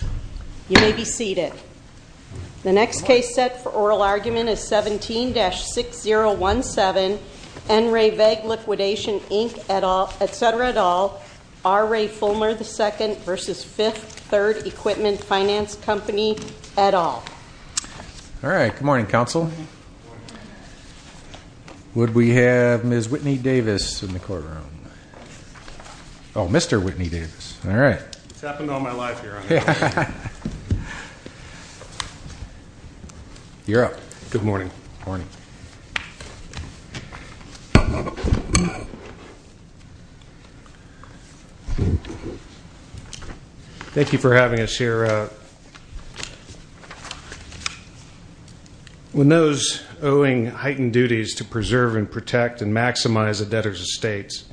You may be seated. The next case set for oral argument is 17-6017, N. Ray Vague Liquidation, Inc., et cetera, et al. R. Ray Fulmer, II v. Fifth Third Equipment Finance Company, et al. All right, good morning, counsel. Would we have Ms. Whitney Davis in the courtroom? Mr. Whitney Davis, all right. It's happened all my life here. You're up. Good morning. Morning. Thank you for having us here. When those owing heightened duties to preserve and protect and maximize a debtor's estates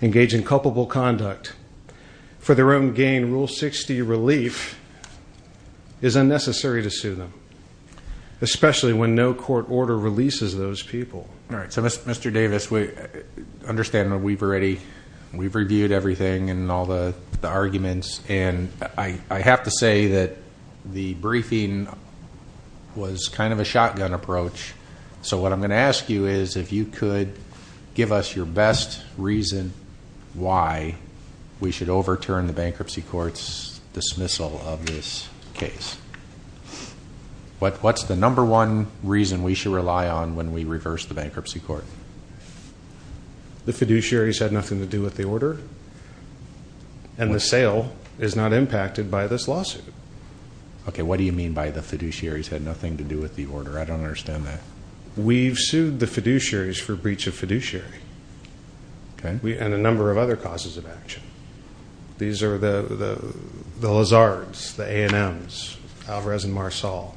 engage in culpable conduct for their own gain, Rule 60 relief is unnecessary to sue them, especially when no court order releases those people. All right, so Mr. Davis, understand that we've reviewed everything and all the arguments. And I have to say that the briefing was kind of a shotgun approach. So what I'm going to ask you is if you could give us your best reason why we should overturn the bankruptcy court's dismissal of this case. What's the number one reason we should rely on when we reverse the bankruptcy court? The fiduciaries had nothing to do with the order. And the sale is not impacted by this lawsuit. Okay, what do you mean by the fiduciaries had nothing to do with the order? I don't understand that. We've sued the fiduciaries for breach of fiduciary and a number of other causes of action. These are the Lazards, the A&Ms, Alvarez and Marsal.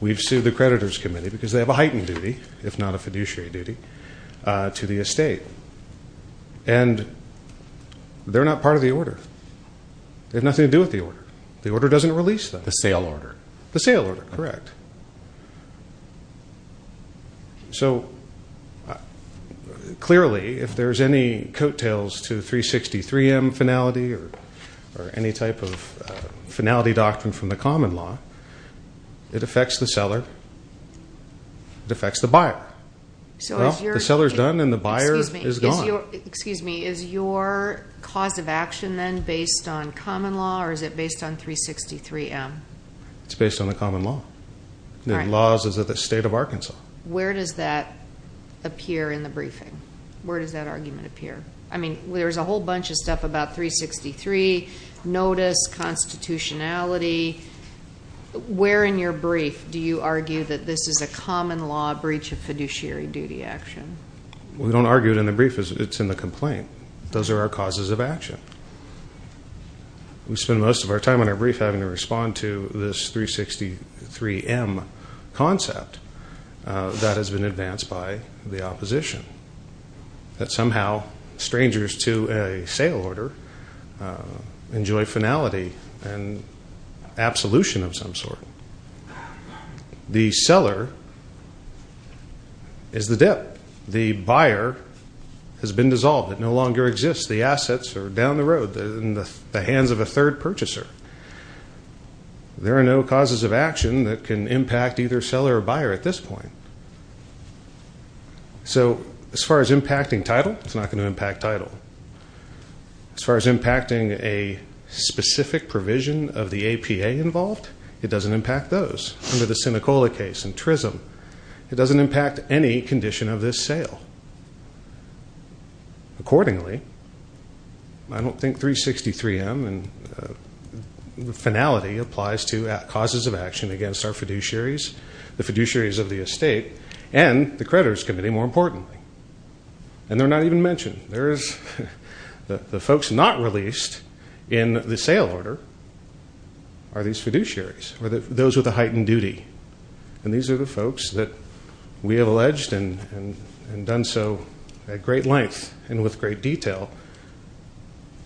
We've sued the creditors committee because they have a heightened duty, if not a fiduciary duty, to the estate. And they're not part of the order. They have nothing to do with the order. The order doesn't release them. The sale order. The sale order, correct. So, clearly, if there's any coattails to the 363M finality or any type of finality doctrine from the common law, it affects the seller, it affects the buyer. The seller's done and the buyer is gone. Excuse me, is your cause of action then based on common law or is it based on 363M? It's based on the common law. The laws of the state of Arkansas. Where does that appear in the briefing? Where does that argument appear? I mean, there's a whole bunch of stuff about 363, notice, constitutionality. Where in your brief do you argue that this is a common law breach of fiduciary duty action? We don't argue it in the brief, it's in the complaint. Those are our causes of action. We spend most of our time on our brief having to respond to this 363M concept that has been advanced by the opposition. That somehow strangers to a sale order enjoy finality and absolution of some sort. The seller is the debt. The buyer has been dissolved. It no longer exists. The assets are down the road in the hands of a third purchaser. There are no causes of action that can impact either seller or buyer at this point. So as far as impacting title, it's not going to impact title. As far as impacting a specific provision of the APA involved, it doesn't impact those. Under the Senecola case and TRISM, it doesn't impact any condition of this sale. Accordingly, I don't think 363M and finality applies to causes of action against our fiduciaries, the fiduciaries of the estate, and the creditors committee, more importantly. And they're not even mentioned. The folks not released in the sale order are these fiduciaries, or those with a heightened duty. And these are the folks that we have alleged and done so at great length and with great detail,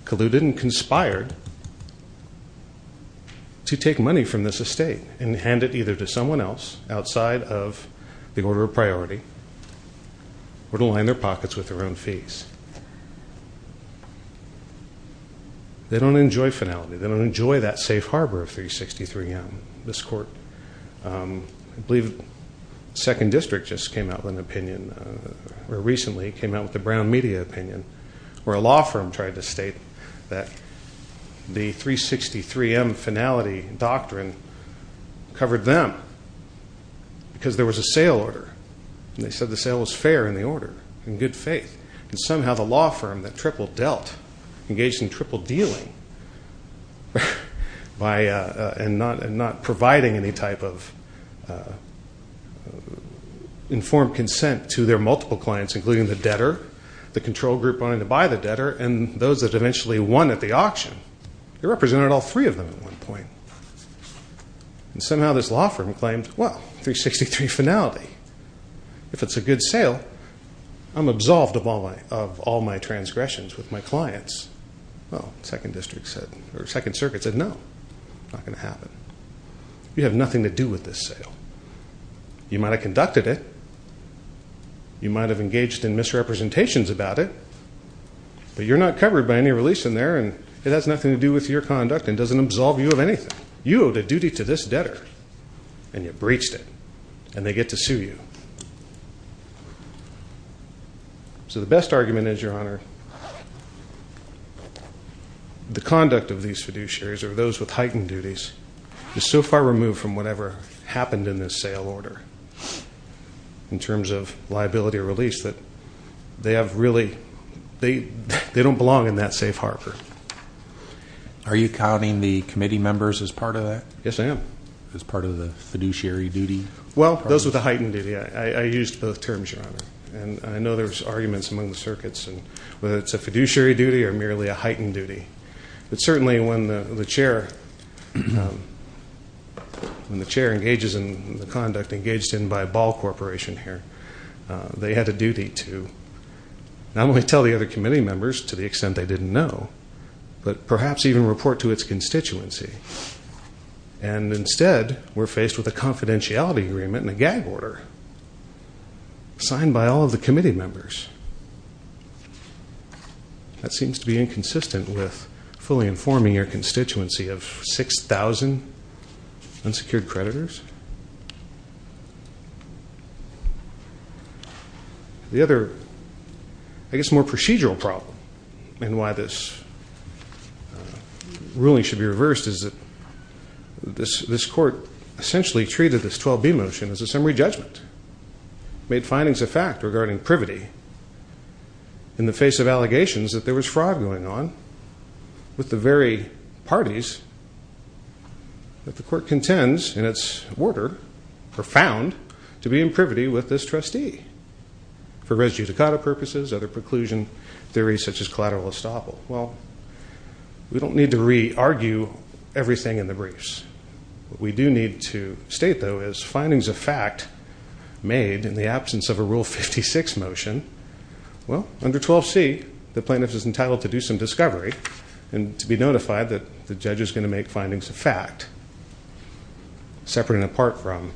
colluded and conspired to take money from this estate and hand it either to someone else outside of the order of priority or to line their pockets with their own fees. They don't enjoy finality. They don't enjoy that safe harbor of 363M. This court, I believe second district just came out with an opinion, or recently came out with a brown media opinion, where a law firm tried to state that the 363M finality doctrine covered them, because there was a sale order. And they said the sale was fair in the order, in good faith. And somehow the law firm that tripled dealt engaged in triple dealing, and not providing any type of informed consent to their multiple clients, including the debtor, the control group wanting to buy the debtor, and those that eventually won at the auction. They represented all three of them at one point. And somehow this law firm claimed, well, 363 finality. If it's a good sale, I'm absolved of all my transgressions with my clients. Well, second district said, or second circuit said, no, it's not going to happen. You have nothing to do with this sale. You might have conducted it. You might have engaged in misrepresentations about it. But you're not covered by any release in there, and it has nothing to do with your conduct, and doesn't absolve you of anything. You owed a duty to this debtor, and you breached it, and they get to sue you. So the best argument is, Your Honor, the conduct of these fiduciaries, or those with heightened duties, is so far removed from whatever happened in this sale order. In terms of liability or release, that they have really, they don't belong in that safe harbor. Are you counting the committee members as part of that? Yes, I am. As part of the fiduciary duty? Well, those with a heightened duty, I used both terms, Your Honor. And I know there's arguments among the circuits, and whether it's a fiduciary duty or merely a heightened duty. But certainly when the chair engages in the conduct engaged in by a ball corporation here, they had a duty to not only tell the other committee members to the extent they didn't know, but perhaps even report to its constituency. And instead, we're faced with a confidentiality agreement and a gag order, signed by all of the committee members. That seems to be inconsistent with fully informing your constituency of 6,000 unsecured creditors. The other, I guess more procedural problem, and why this ruling should be reversed is that this court essentially treated this 12B motion as a summary judgment. Made findings of fact regarding privity in the face of allegations that there was fraud going on with the very parties. That the court contends in its order, profound, to be in privity with this trustee. For res judicata purposes, other preclusion theories such as collateral estoppel. Well, we don't need to re-argue everything in the briefs. What we do need to state, though, is findings of fact made in the absence of a Rule 56 motion. Well, under 12C, the plaintiff is entitled to do some discovery and to be notified that the judge is going to make findings of fact, separate and apart from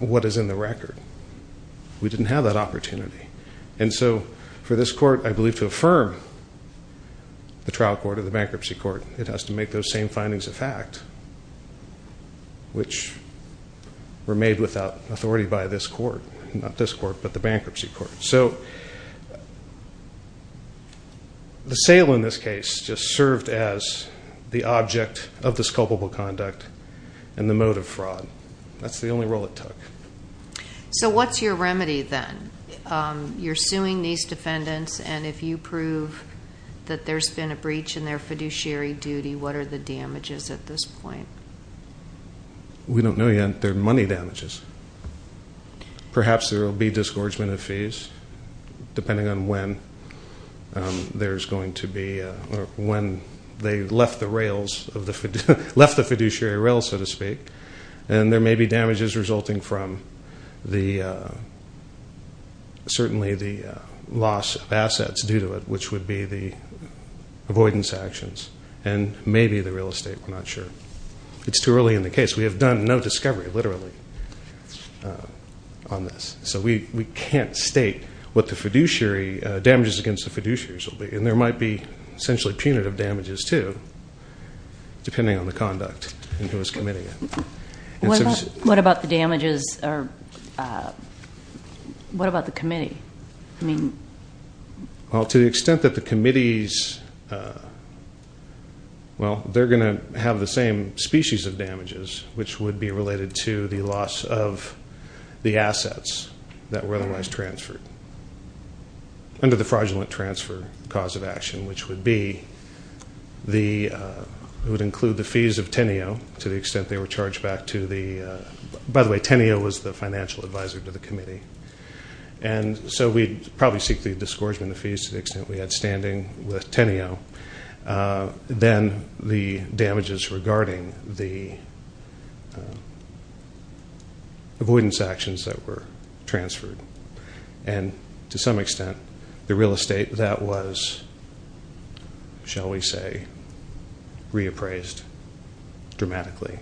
what is in the record. We didn't have that opportunity. And so, for this court, I believe, to affirm the trial court or the bankruptcy court, it has to make those same findings of fact, which were made without authority by this court. Not this court, but the bankruptcy court. So, the sale in this case just served as the object of this culpable conduct and the mode of fraud. That's the only role it took. So, what's your remedy, then? You're suing these defendants, and if you prove that there's been a breach in their fiduciary duty, what are the damages at this point? We don't know yet. They're money damages. Perhaps there will be disgorgement of fees, depending on when there's going to be, or when they left the rails, left the fiduciary rails, so to speak. And there may be damages resulting from certainly the loss of assets due to it, which would be the avoidance actions, and maybe the real estate, we're not sure. It's too early in the case. We have done no discovery, literally, on this. So, we can't state what the damages against the fiduciaries will be. And there might be, essentially, punitive damages, too, depending on the conduct and who is committing it. What about the damages, or what about the committee? Well, to the extent that the committees, well, they're going to have the same species of damages, which would be related to the loss of the assets that were otherwise transferred. Under the fraudulent transfer, the cause of action, which would be the, it would include the fees of Teneo, to the extent they were charged back to the, by the way, Teneo was the financial advisor to the committee. And so, we'd probably seek the disgorgement of fees to the extent we had standing with Teneo. Then, the damages regarding the avoidance actions that were transferred. And, to some extent, the real estate, that was, shall we say, reappraised dramatically.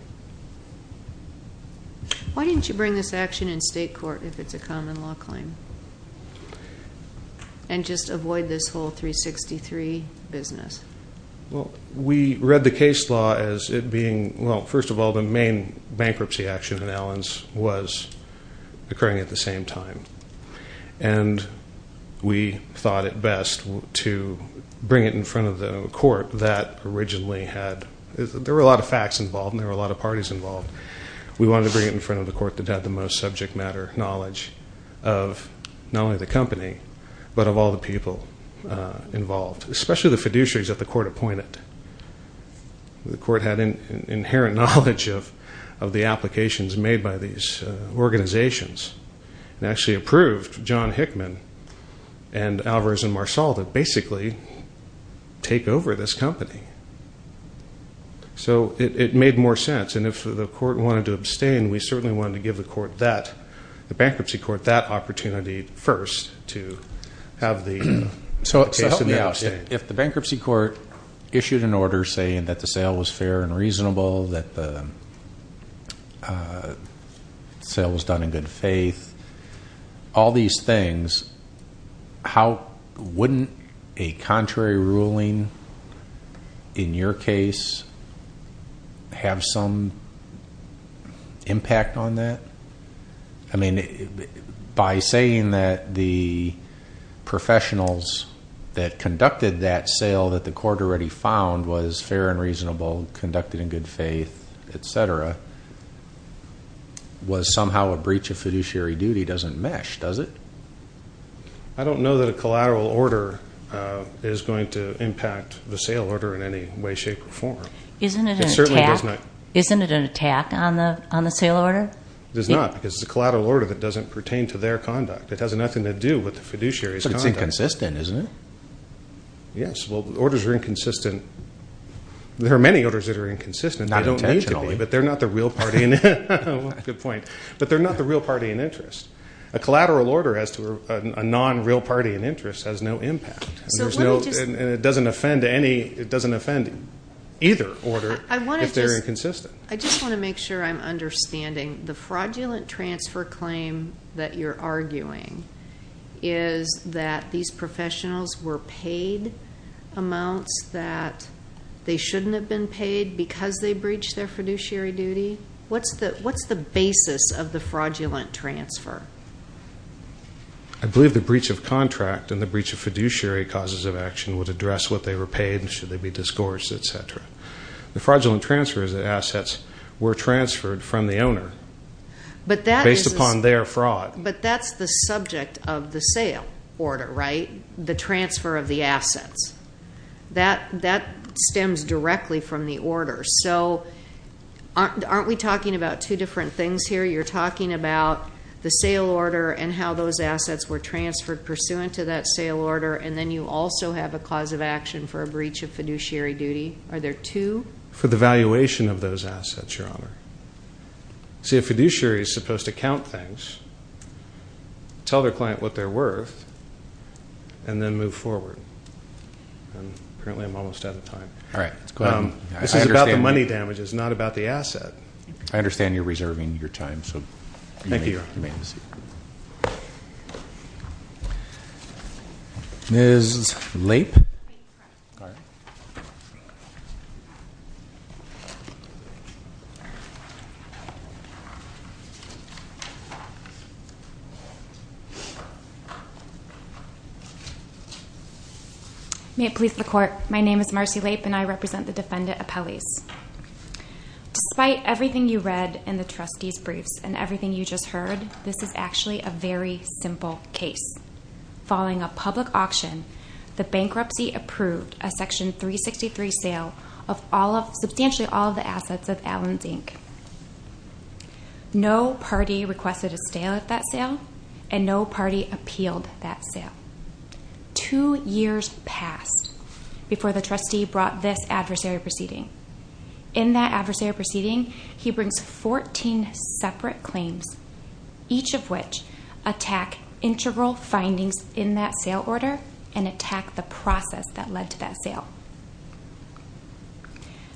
Why didn't you bring this action in state court, if it's a common law claim, and just avoid this whole 363 business? Well, we read the case law as it being, well, first of all, the main bankruptcy action in Allen's was occurring at the same time. And, we thought it best to bring it in front of the court that originally had, there were a lot of facts involved, and there were a lot of parties involved. We wanted to bring it in front of the court that had the most subject matter knowledge of, not only the company, but of all the people involved, especially the fiduciaries that the court appointed. The court had an inherent knowledge of the applications made by these organizations. And, actually approved John Hickman and Alvarez and Marsal to basically take over this company. So, it made more sense. And, if the court wanted to abstain, we certainly wanted to give the court that, the bankruptcy court that opportunity first to have the case in the abstain. If the bankruptcy court issued an order saying that the sale was fair and reasonable, that the sale was done in good faith, all these things, how wouldn't a contrary ruling in your case have some impact on that? I mean, by saying that the professionals that conducted that sale that the court already found was fair and reasonable, conducted in good faith, etc., was somehow a breach of fiduciary duty doesn't mesh, does it? I don't know that a collateral order is going to impact the sale order in any way, shape, or form. Isn't it an attack on the sale order? It is not, because it's a collateral order that doesn't pertain to their conduct. It has nothing to do with the fiduciary's conduct. But, it's inconsistent, isn't it? Yes. Well, the orders are inconsistent. There are many orders that are inconsistent. Not intentionally. They don't need to be, but they're not the real party. Good point. But, they're not the real party in interest. A collateral order as to a non-real party in interest has no impact. And, it doesn't offend any, it doesn't offend either order if they're inconsistent. I just want to make sure I'm understanding. The fraudulent transfer claim that you're arguing is that these professionals were paid amounts that they shouldn't have been paid because they breached their fiduciary duty. What's the basis of the fraudulent transfer? I believe the breach of contract and the breach of fiduciary causes of action would address what they were paid and should they be disgorged, etc. The fraudulent transfer is that assets were transferred from the owner based upon their fraud. But, that's the subject of the sale order, right? The transfer of the assets. That stems directly from the order. So, aren't we talking about two different things here? You're talking about the sale order and how those assets were transferred pursuant to that sale order. And, then you also have a cause of action for a breach of fiduciary duty. Are there two? For the valuation of those assets, Your Honor. See, a fiduciary is supposed to count things, tell their client what they're worth, and then move forward. And, apparently I'm almost out of time. All right. Let's go ahead. This is about the money damages, not about the asset. I understand you're reserving your time. So, you may remain seated. Ms. Lape? All right. May it please the Court. My name is Marcy Lape, and I represent the Defendant Appellees. Despite everything you read in the trustee's briefs and everything you just heard, this is actually a very simple case. Following a public auction, the bankruptcy approved a Section 363 sale of substantially all of the assets of Allen's, Inc. No party requested a sale at that sale, and no party appealed that sale. Two years passed before the trustee brought this adversary proceeding. In that adversary proceeding, he brings 14 separate claims, each of which attack integral findings in that sale order and attack the process that led to that sale.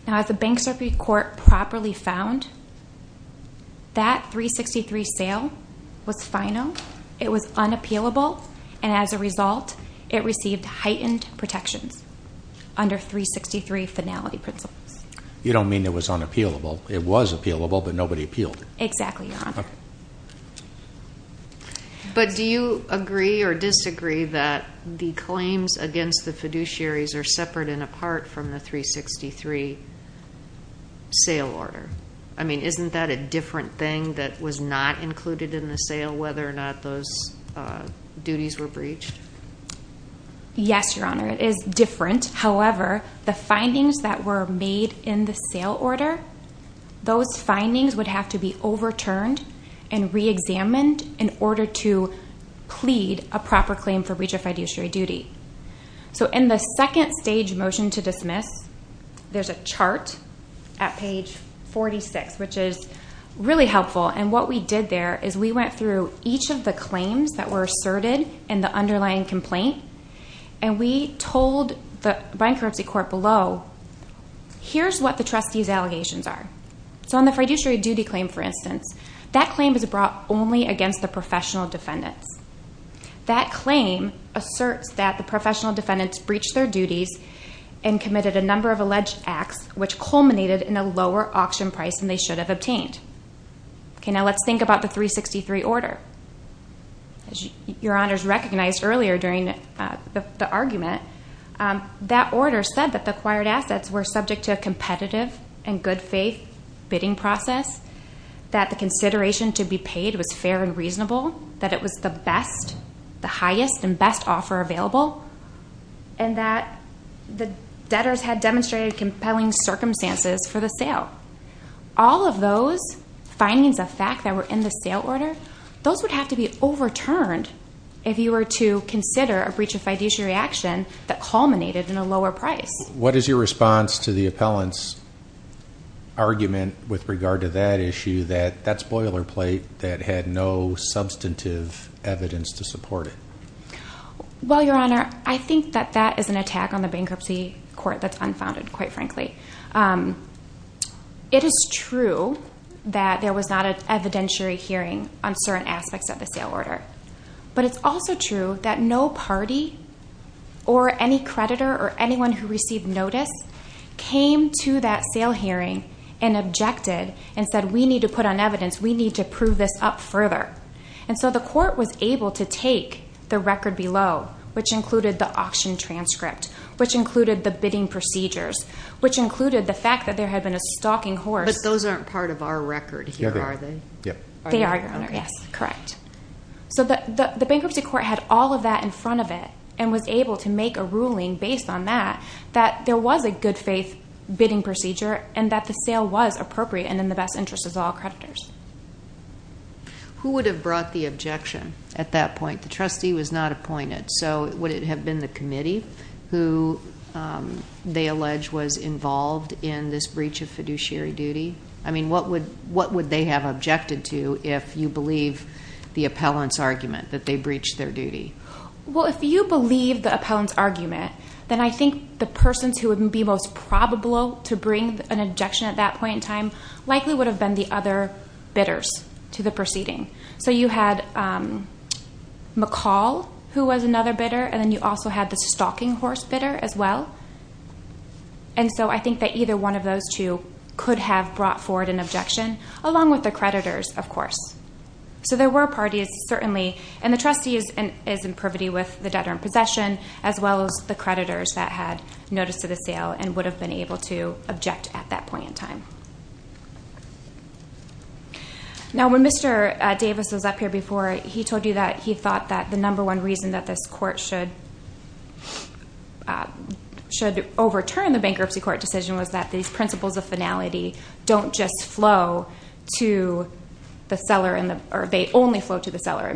Now, as the Bankruptcy Court properly found, that 363 sale was final, it was unappealable, and as a result, it received heightened protections under 363 finality principles. You don't mean it was unappealable. It was appealable, but nobody appealed it. Exactly, Your Honor. But do you agree or disagree that the claims against the fiduciaries are separate and apart from the 363 sale order? I mean, isn't that a different thing that was not included in the sale, whether or not those duties were breached? Yes, Your Honor, it is different. However, the findings that were made in the sale order, those findings would have to be overturned and reexamined in order to plead a proper claim for breach of fiduciary duty. So in the second stage motion to dismiss, there's a chart at page 46, which is really helpful. And what we did there is we went through each of the claims that were asserted in the underlying complaint, and we told the Bankruptcy Court below, here's what the trustee's allegations are. So on the fiduciary duty claim, for instance, that claim is brought only against the professional defendants. That claim asserts that the professional defendants breached their duties and committed a number of alleged acts, which culminated in a lower auction price than they should have obtained. Okay, now let's think about the 363 order. As Your Honor's recognized earlier during the argument, that order said that the acquired assets were subject to a competitive and good faith bidding process, that the consideration to be paid was fair and reasonable, that it was the best, the highest and best offer available, and that the debtors had demonstrated compelling circumstances for the sale. All of those findings of fact that were in the sale order, those would have to be overturned if you were to consider a breach of fiduciary action that culminated in a lower price. What is your response to the appellant's argument with regard to that issue, that that's boilerplate, that had no substantive evidence to support it? Well, Your Honor, I think that that is an attack on the Bankruptcy Court that's unfounded, quite frankly. It is true that there was not an evidentiary hearing on certain aspects of the sale order. But it's also true that no party or any creditor or anyone who received notice came to that sale hearing and objected and said, we need to put on evidence, we need to prove this up further. And so the court was able to take the record below, which included the auction transcript, which included the bidding procedures, which included the fact that there had been a stalking horse. But those aren't part of our record here, are they? They are, Your Honor, yes, correct. So the Bankruptcy Court had all of that in front of it and was able to make a ruling based on that, that there was a good faith bidding procedure and that the sale was appropriate and in the best interest of all creditors. Who would have brought the objection at that point? The trustee was not appointed. So would it have been the committee who they allege was involved in this breach of fiduciary duty? I mean, what would they have objected to if you believe the appellant's argument that they breached their duty? Well, if you believe the appellant's argument, then I think the persons who would be most probable to bring an objection at that point in time likely would have been the other bidders to the proceeding. So you had McCall, who was another bidder, and then you also had the stalking horse bidder as well. And so I think that either one of those two could have brought forward an objection, along with the creditors, of course. So there were parties, certainly, and the trustee is in privity with the debtor in possession as well as the creditors that had noticed the sale and would have been able to object at that point in time. Now, when Mr. Davis was up here before, he told you that he thought that the number one reason that this court should overturn the bankruptcy court decision was that these principles of finality don't just flow to the seller, or they only flow to the seller.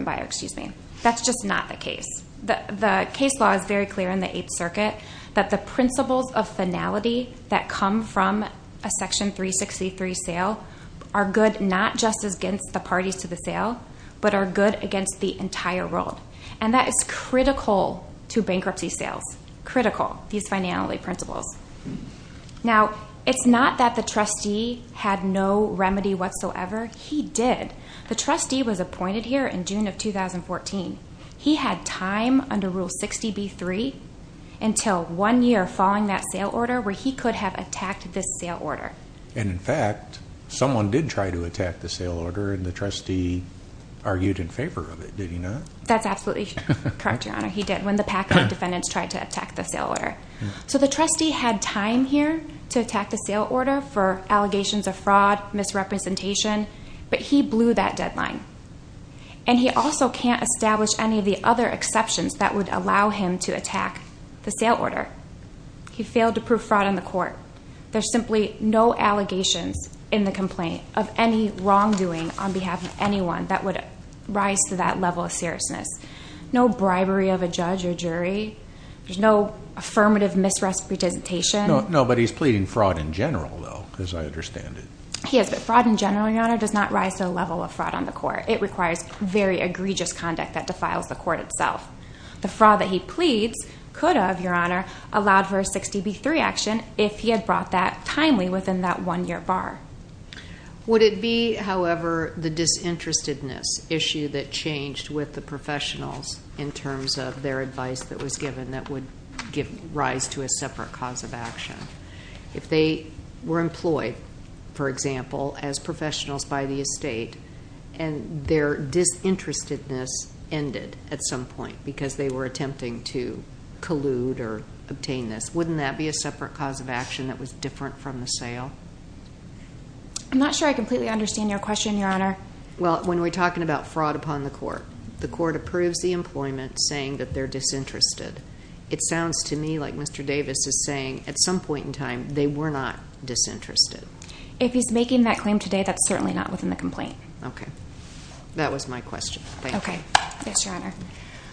That's just not the case. The case law is very clear in the Eighth Circuit that the principles of finality that come from a Section 363 sale are good not just against the parties to the sale, but are good against the entire world. And that is critical to bankruptcy sales. Critical, these finality principles. Now, it's not that the trustee had no remedy whatsoever. He did. The trustee was appointed here in June of 2014. He had time under Rule 60b-3 until one year following that sale order where he could have attacked this sale order. And in fact, someone did try to attack the sale order, and the trustee argued in favor of it. Did he not? That's absolutely correct, Your Honor. He did when the PACA defendants tried to attack the sale order. So the trustee had time here to attack the sale order for allegations of fraud, misrepresentation, but he blew that deadline. And he also can't establish any of the other exceptions that would allow him to attack the sale order. He failed to prove fraud in the court. There's simply no allegations in the complaint of any wrongdoing on behalf of anyone that would rise to that level of seriousness. No bribery of a judge or jury. There's no affirmative misrepresentation. No, but he's pleading fraud in general, though, as I understand it. He is, but fraud in general, Your Honor, does not rise to the level of fraud on the court. It requires very egregious conduct that defiles the court itself. The fraud that he pleads could have, Your Honor, allowed for a 60b-3 action if he had brought that timely within that one-year bar. Would it be, however, the disinterestedness issue that changed with the professionals in terms of their advice that was given that would give rise to a separate cause of action? If they were employed, for example, as professionals by the estate and their disinterestedness ended at some point because they were attempting to collude or obtain this, wouldn't that be a separate cause of action that was different from the sale? I'm not sure I completely understand your question, Your Honor. Well, when we're talking about fraud upon the court, the court approves the employment saying that they're disinterested. It sounds to me like Mr. Davis is saying at some point in time they were not disinterested. If he's making that claim today, that's certainly not within the complaint. Okay. That was my question. Thank you. Okay. Thanks, Your Honor.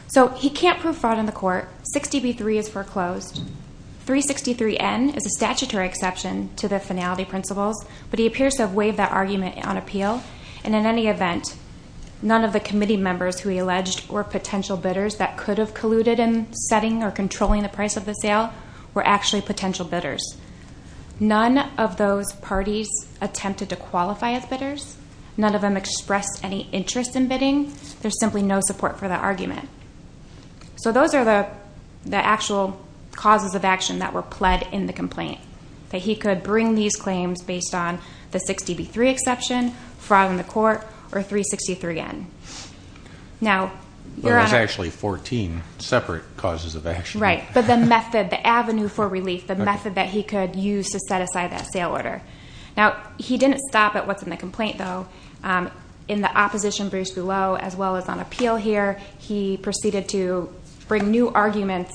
So he can't prove fraud on the court. 60B3 is foreclosed. 363N is a statutory exception to the finality principles, but he appears to have waived that argument on appeal. And in any event, none of the committee members who he alleged were potential bidders that could have colluded in setting or controlling the price of the sale were actually potential bidders. None of those parties attempted to qualify as bidders. There's simply no support for that argument. So those are the actual causes of action that were pled in the complaint, that he could bring these claims based on the 60B3 exception, fraud on the court, or 363N. There was actually 14 separate causes of action. Right. But the method, the avenue for relief, the method that he could use to set aside that sale order. Now, he didn't stop at what's in the complaint, though. In the opposition briefs below, as well as on appeal here, he proceeded to bring new arguments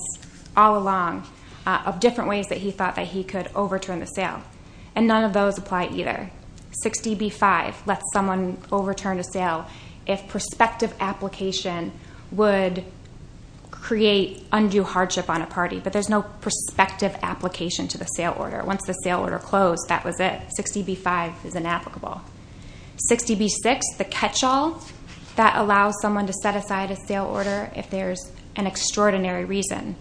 all along of different ways that he thought that he could overturn the sale. And none of those apply either. 60B5 lets someone overturn a sale if prospective application would create undue hardship on a party. But there's no prospective application to the sale order. Once the sale order closed, that was it. 60B5 is inapplicable. 60B6, the catch-all, that allows someone to set aside a sale order if there's an extraordinary reason.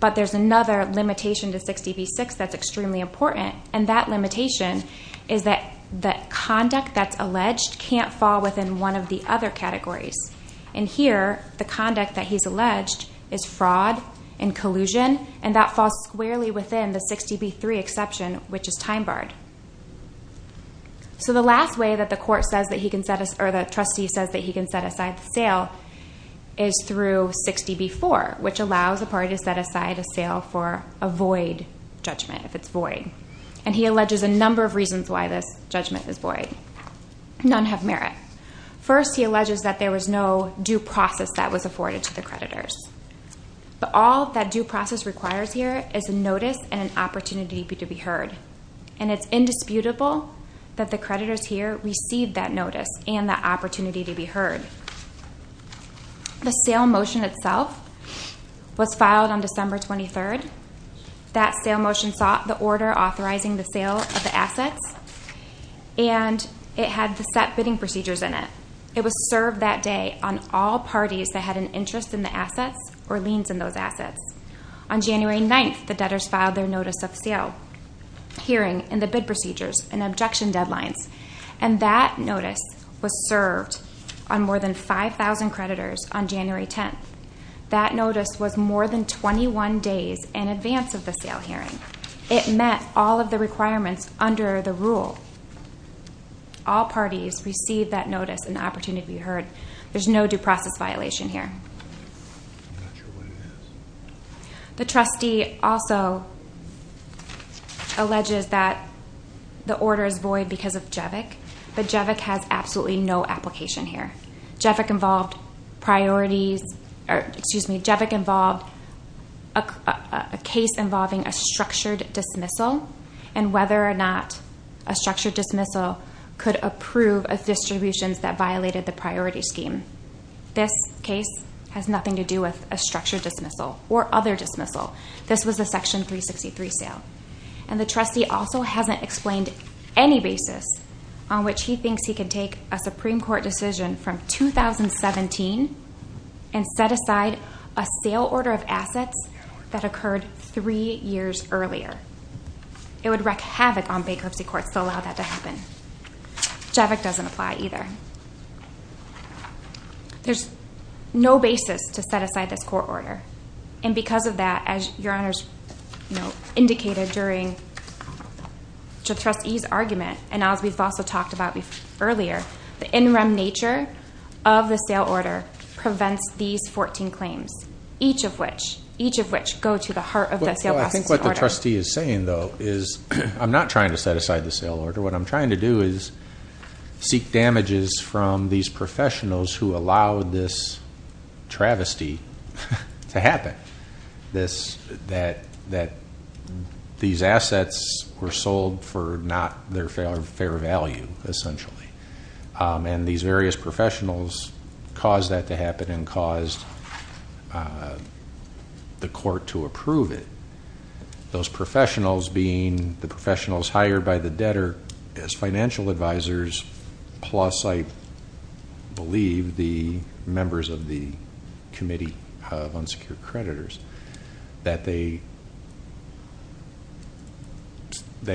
But there's another limitation to 60B6 that's extremely important, and that limitation is that the conduct that's alleged can't fall within one of the other categories. And here, the conduct that he's alleged is fraud and collusion, and that falls squarely within the 60B3 exception, which is time-barred. So the last way that the court says that he can set aside, or the trustee says that he can set aside the sale, is through 60B4, which allows a party to set aside a sale for a void judgment, if it's void. And he alleges a number of reasons why this judgment is void. None have merit. First, he alleges that there was no due process that was afforded to the creditors. But all that due process requires here is a notice and an opportunity to be heard. And it's indisputable that the creditors here received that notice and that opportunity to be heard. The sale motion itself was filed on December 23rd. That sale motion sought the order authorizing the sale of the assets, and it had the set bidding procedures in it. It was served that day on all parties that had an interest in the assets or liens in those assets. On January 9th, the debtors filed their notice of sale. Hearing in the bid procedures and objection deadlines. And that notice was served on more than 5,000 creditors on January 10th. That notice was more than 21 days in advance of the sale hearing. It met all of the requirements under the rule. All parties received that notice and opportunity to be heard. There's no due process violation here. I'm not sure what it is. The trustee also alleges that the order is void because of JEVIC, but JEVIC has absolutely no application here. JEVIC involved priorities, or excuse me, JEVIC involved a case involving a structured dismissal and whether or not a structured dismissal could approve of distributions that violated the priority scheme. This case has nothing to do with a structured dismissal or other dismissal. This was a Section 363 sale. And the trustee also hasn't explained any basis on which he thinks he can take a Supreme Court decision from 2017 and set aside a sale order of assets that occurred three years earlier. It would wreak havoc on bankruptcy courts to allow that to happen. JEVIC doesn't apply either. There's no basis to set aside this court order. And because of that, as Your Honors indicated during the trustee's argument, and as we've also talked about earlier, the in rem nature of the sale order prevents these 14 claims, each of which go to the heart of the sale process order. Well, I think what the trustee is saying, though, is I'm not trying to set aside the sale order. What I'm trying to do is seek damages from these professionals who allowed this travesty to happen, that these assets were sold for not their fair value, essentially. And these various professionals caused that to happen and caused the court to approve it. Those professionals being the professionals hired by the debtor as financial advisors, plus, I believe, the members of the Committee of Unsecured Creditors, that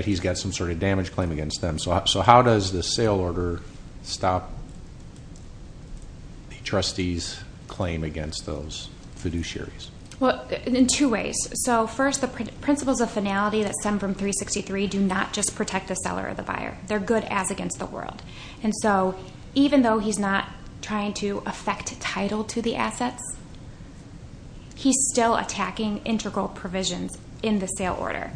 he's got some sort of damage claim against them. So how does the sale order stop the trustee's claim against those fiduciaries? Well, in two ways. So first, the principles of finality that stem from 363 do not just protect the seller or the buyer. They're good as against the world. And so even though he's not trying to affect title to the assets, he's still attacking integral provisions in the sale order,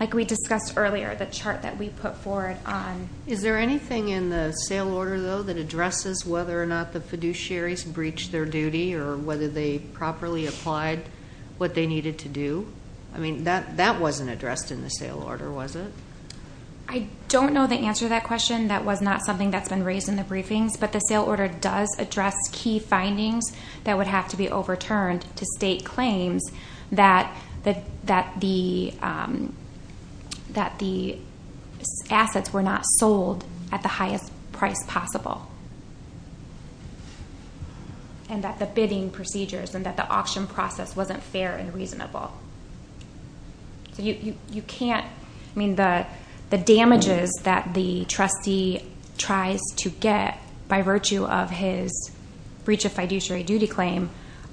like we discussed earlier, the chart that we put forward on. Is there anything in the sale order, though, that addresses whether or not the fiduciaries breached their duty or whether they properly applied what they needed to do? I mean, that wasn't addressed in the sale order, was it? I don't know the answer to that question. That was not something that's been raised in the briefings. But the sale order does address key findings that would have to be overturned to state claims that the assets were not sold at the highest price possible and that the bidding procedures and that the auction process wasn't fair and reasonable. So you can't – I mean, the damages that the trustee tries to get by virtue of his breach of fiduciary duty claim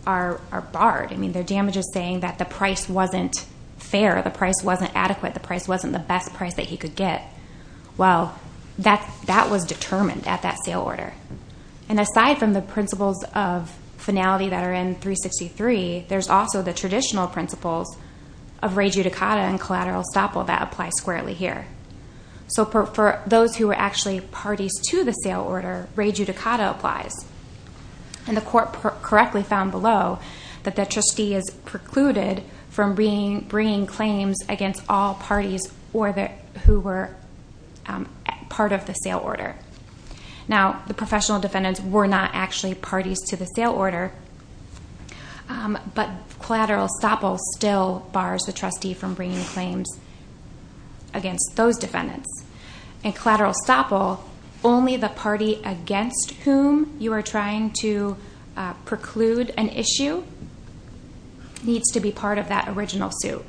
are barred. I mean, they're damages saying that the price wasn't fair, the price wasn't adequate, the price wasn't the best price that he could get. Well, that was determined at that sale order. And aside from the principles of finality that are in 363, there's also the traditional principles of re judicata and collateral estoppel that apply squarely here. So for those who were actually parties to the sale order, re judicata applies. And the court correctly found below that the trustee is precluded from bringing claims against all parties who were part of the sale order. Now, the professional defendants were not actually parties to the sale order, but collateral estoppel still bars the trustee from bringing claims against those defendants. And collateral estoppel, only the party against whom you are trying to preclude an issue needs to be part of that original suit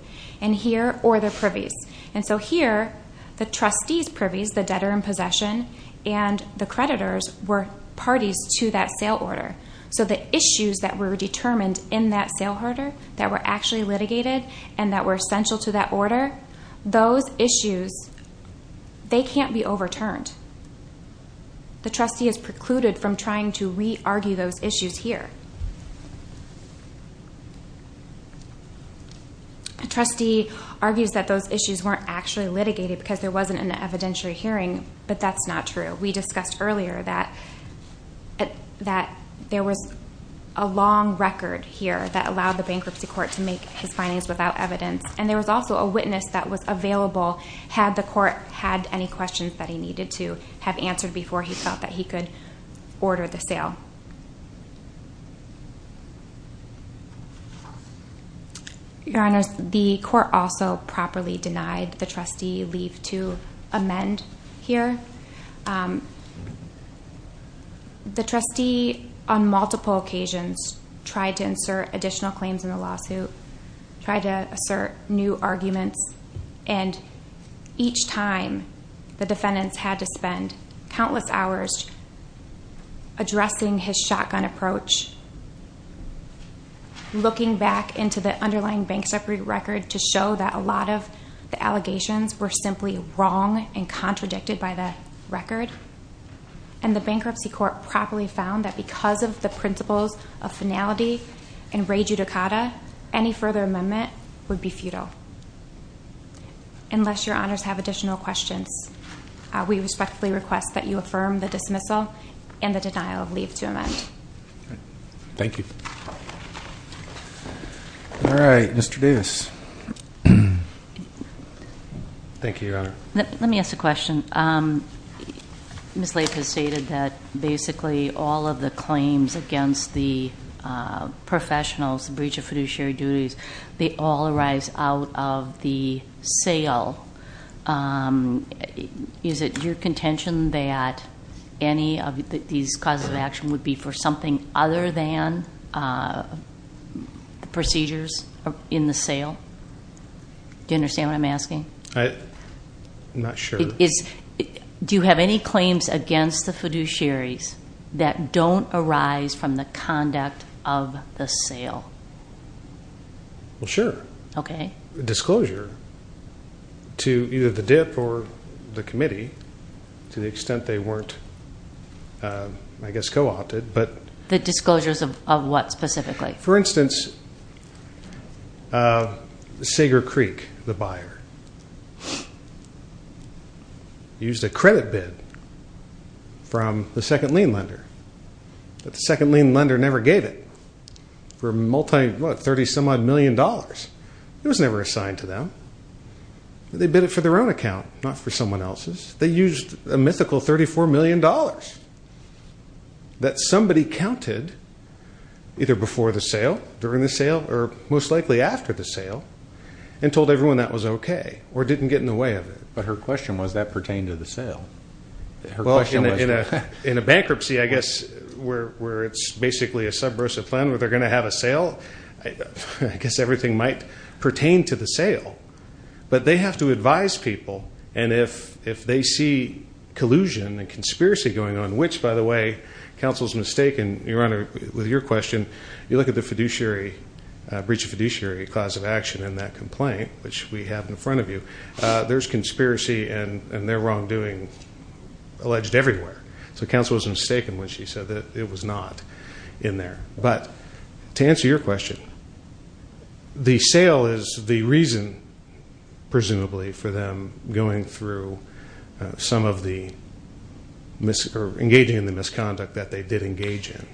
or their privies. And so here, the trustee's privies, the debtor in possession, and the creditors were parties to that sale order. So the issues that were determined in that sale order that were actually litigated and that were essential to that order, those issues, they can't be overturned. The trustee is precluded from trying to re-argue those issues here. A trustee argues that those issues weren't actually litigated because there wasn't an evidentiary hearing, but that's not true. We discussed earlier that there was a long record here that allowed the bankruptcy court to make his findings without evidence, and there was also a witness that was available had the court had any questions that he needed to have answered before he thought that he could order the sale. Your Honors, the court also properly denied the trustee leave to amend here. The trustee, on multiple occasions, tried to insert additional claims in the lawsuit, tried to assert new arguments, and each time the defendants had to spend countless hours addressing his shotgun approach, looking back into the underlying bankruptcy record to show that a lot of the allegations were simply wrong and contradicted by the record, and the bankruptcy court properly found that because of the principles of finality and re-judicata, any further amendment would be futile. Unless Your Honors have additional questions, we respectfully request that you affirm the dismissal and the denial of leave to amend. Thank you. All right, Mr. Davis. Thank you, Your Honor. Let me ask a question. Ms. Latham stated that basically all of the claims against the professionals, the breach of fiduciary duties, they all arise out of the sale. Is it your contention that any of these causes of action would be for something other than the procedures in the sale? Do you understand what I'm asking? I'm not sure. Do you have any claims against the fiduciaries that don't arise from the sale? Well, sure. Okay. Disclosure to either the DIP or the committee to the extent they weren't, I guess, co-opted. The disclosures of what specifically? For instance, Sager Creek, the buyer, used a credit bid from the second lien lender, but the second lien lender never gave it. It was for multi, what, 30-some-odd million dollars. It was never assigned to them. They bid it for their own account, not for someone else's. They used a mythical $34 million that somebody counted either before the sale, during the sale, or most likely after the sale, and told everyone that was okay or didn't get in the way of it. But her question was, that pertained to the sale. Well, in a bankruptcy, I guess, where it's basically a subversive plan where they're going to have a sale, I guess everything might pertain to the sale. But they have to advise people, and if they see collusion and conspiracy going on, which, by the way, counsel's mistaken, Your Honor, with your question, you look at the breach of fiduciary clause of action in that complaint, which we have in front of you, there's conspiracy and there are wrongdoing alleged everywhere. So counsel was mistaken when she said that it was not in there. But to answer your question, the sale is the reason, presumably, for them going through some of the misconduct that they did engage in.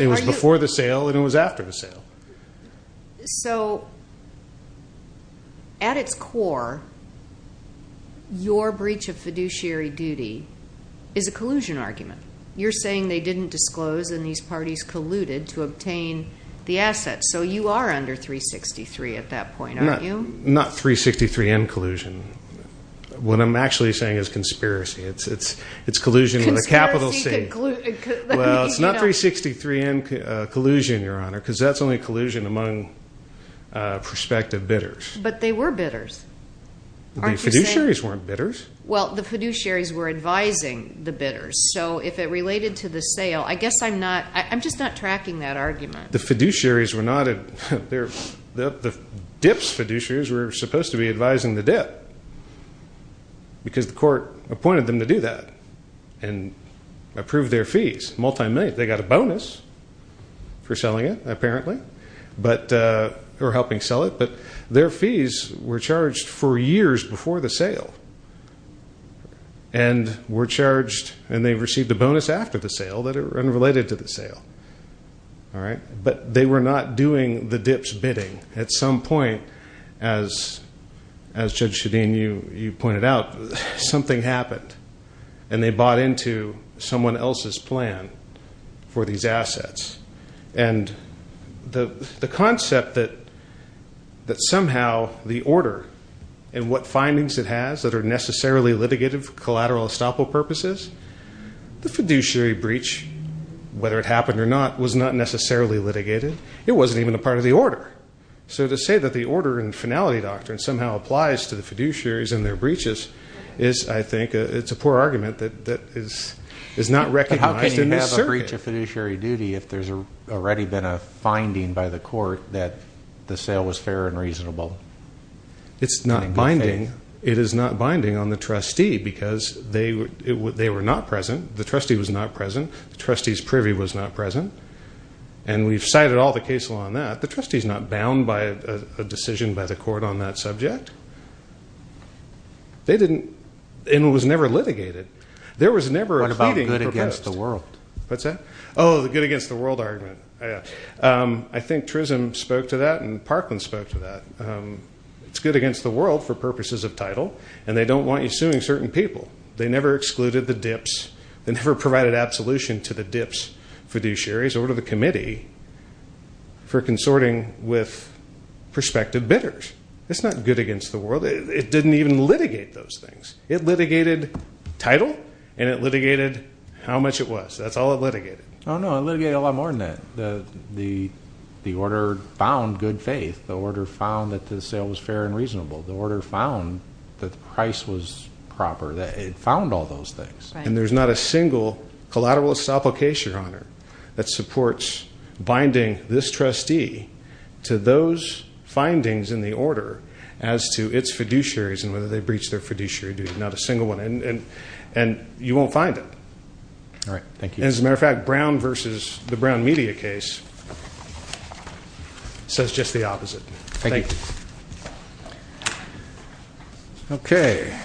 It was before the sale, and it was after the sale. So at its core, your breach of fiduciary duty is a collusion argument. You're saying they didn't disclose, and these parties colluded to obtain the assets. So you are under 363 at that point, aren't you? Not 363N collusion. What I'm actually saying is conspiracy. It's collusion with a capital C. Well, it's not 363N collusion, Your Honor, because that's only collusion among prospective bidders. But they were bidders, aren't you saying? The fiduciaries weren't bidders. Well, the fiduciaries were advising the bidders. So if it related to the sale, I guess I'm just not tracking that argument. The fiduciaries were not. The DIPS fiduciaries were supposed to be advising the DIPS, because the court appointed them to do that and approve their fees, multimillion. They got a bonus for selling it, apparently, or helping sell it. But their fees were charged for years before the sale. And were charged, and they received a bonus after the sale that are unrelated to the sale. But they were not doing the DIPS bidding. At some point, as Judge Shadeen, you pointed out, something happened, and they bought into someone else's plan for these assets. And the concept that somehow the order and what findings it has that are necessarily litigative for collateral estoppel purposes, the fiduciary breach, whether it happened or not, was not necessarily litigated. It wasn't even a part of the order. So to say that the order and finality doctrine somehow applies to the fiduciaries and their breaches is, I think, it's a poor argument that is not recognized in this circuit. But how can you have a breach of fiduciary duty if there's already been a finding by the court that the sale was fair and reasonable? It's not binding. It is not binding on the trustee because they were not present. The trustee was not present. The trustee's privy was not present. And we've cited all the case law on that. The trustee is not bound by a decision by the court on that subject. And it was never litigated. There was never a pleading proposed. What about good against the world? What's that? Oh, the good against the world argument. I think Trism spoke to that, and Parkland spoke to that. It's good against the world for purposes of title, and they don't want you suing certain people. They never excluded the dips. They never provided absolution to the dips fiduciaries or to the committee for consorting with prospective bidders. It's not good against the world. It didn't even litigate those things. It litigated title, and it litigated how much it was. That's all it litigated. Oh, no, it litigated a lot more than that. The order found good faith. The order found that the sale was fair and reasonable. The order found that the price was proper. It found all those things. And there's not a single collateralist application on it that supports binding this trustee to those findings in the order as to its fiduciaries and whether they breached their fiduciary duties, not a single one. And you won't find it. All right. Thank you. As a matter of fact, Brown versus the Brown media case says just the opposite. Thank you. Okay.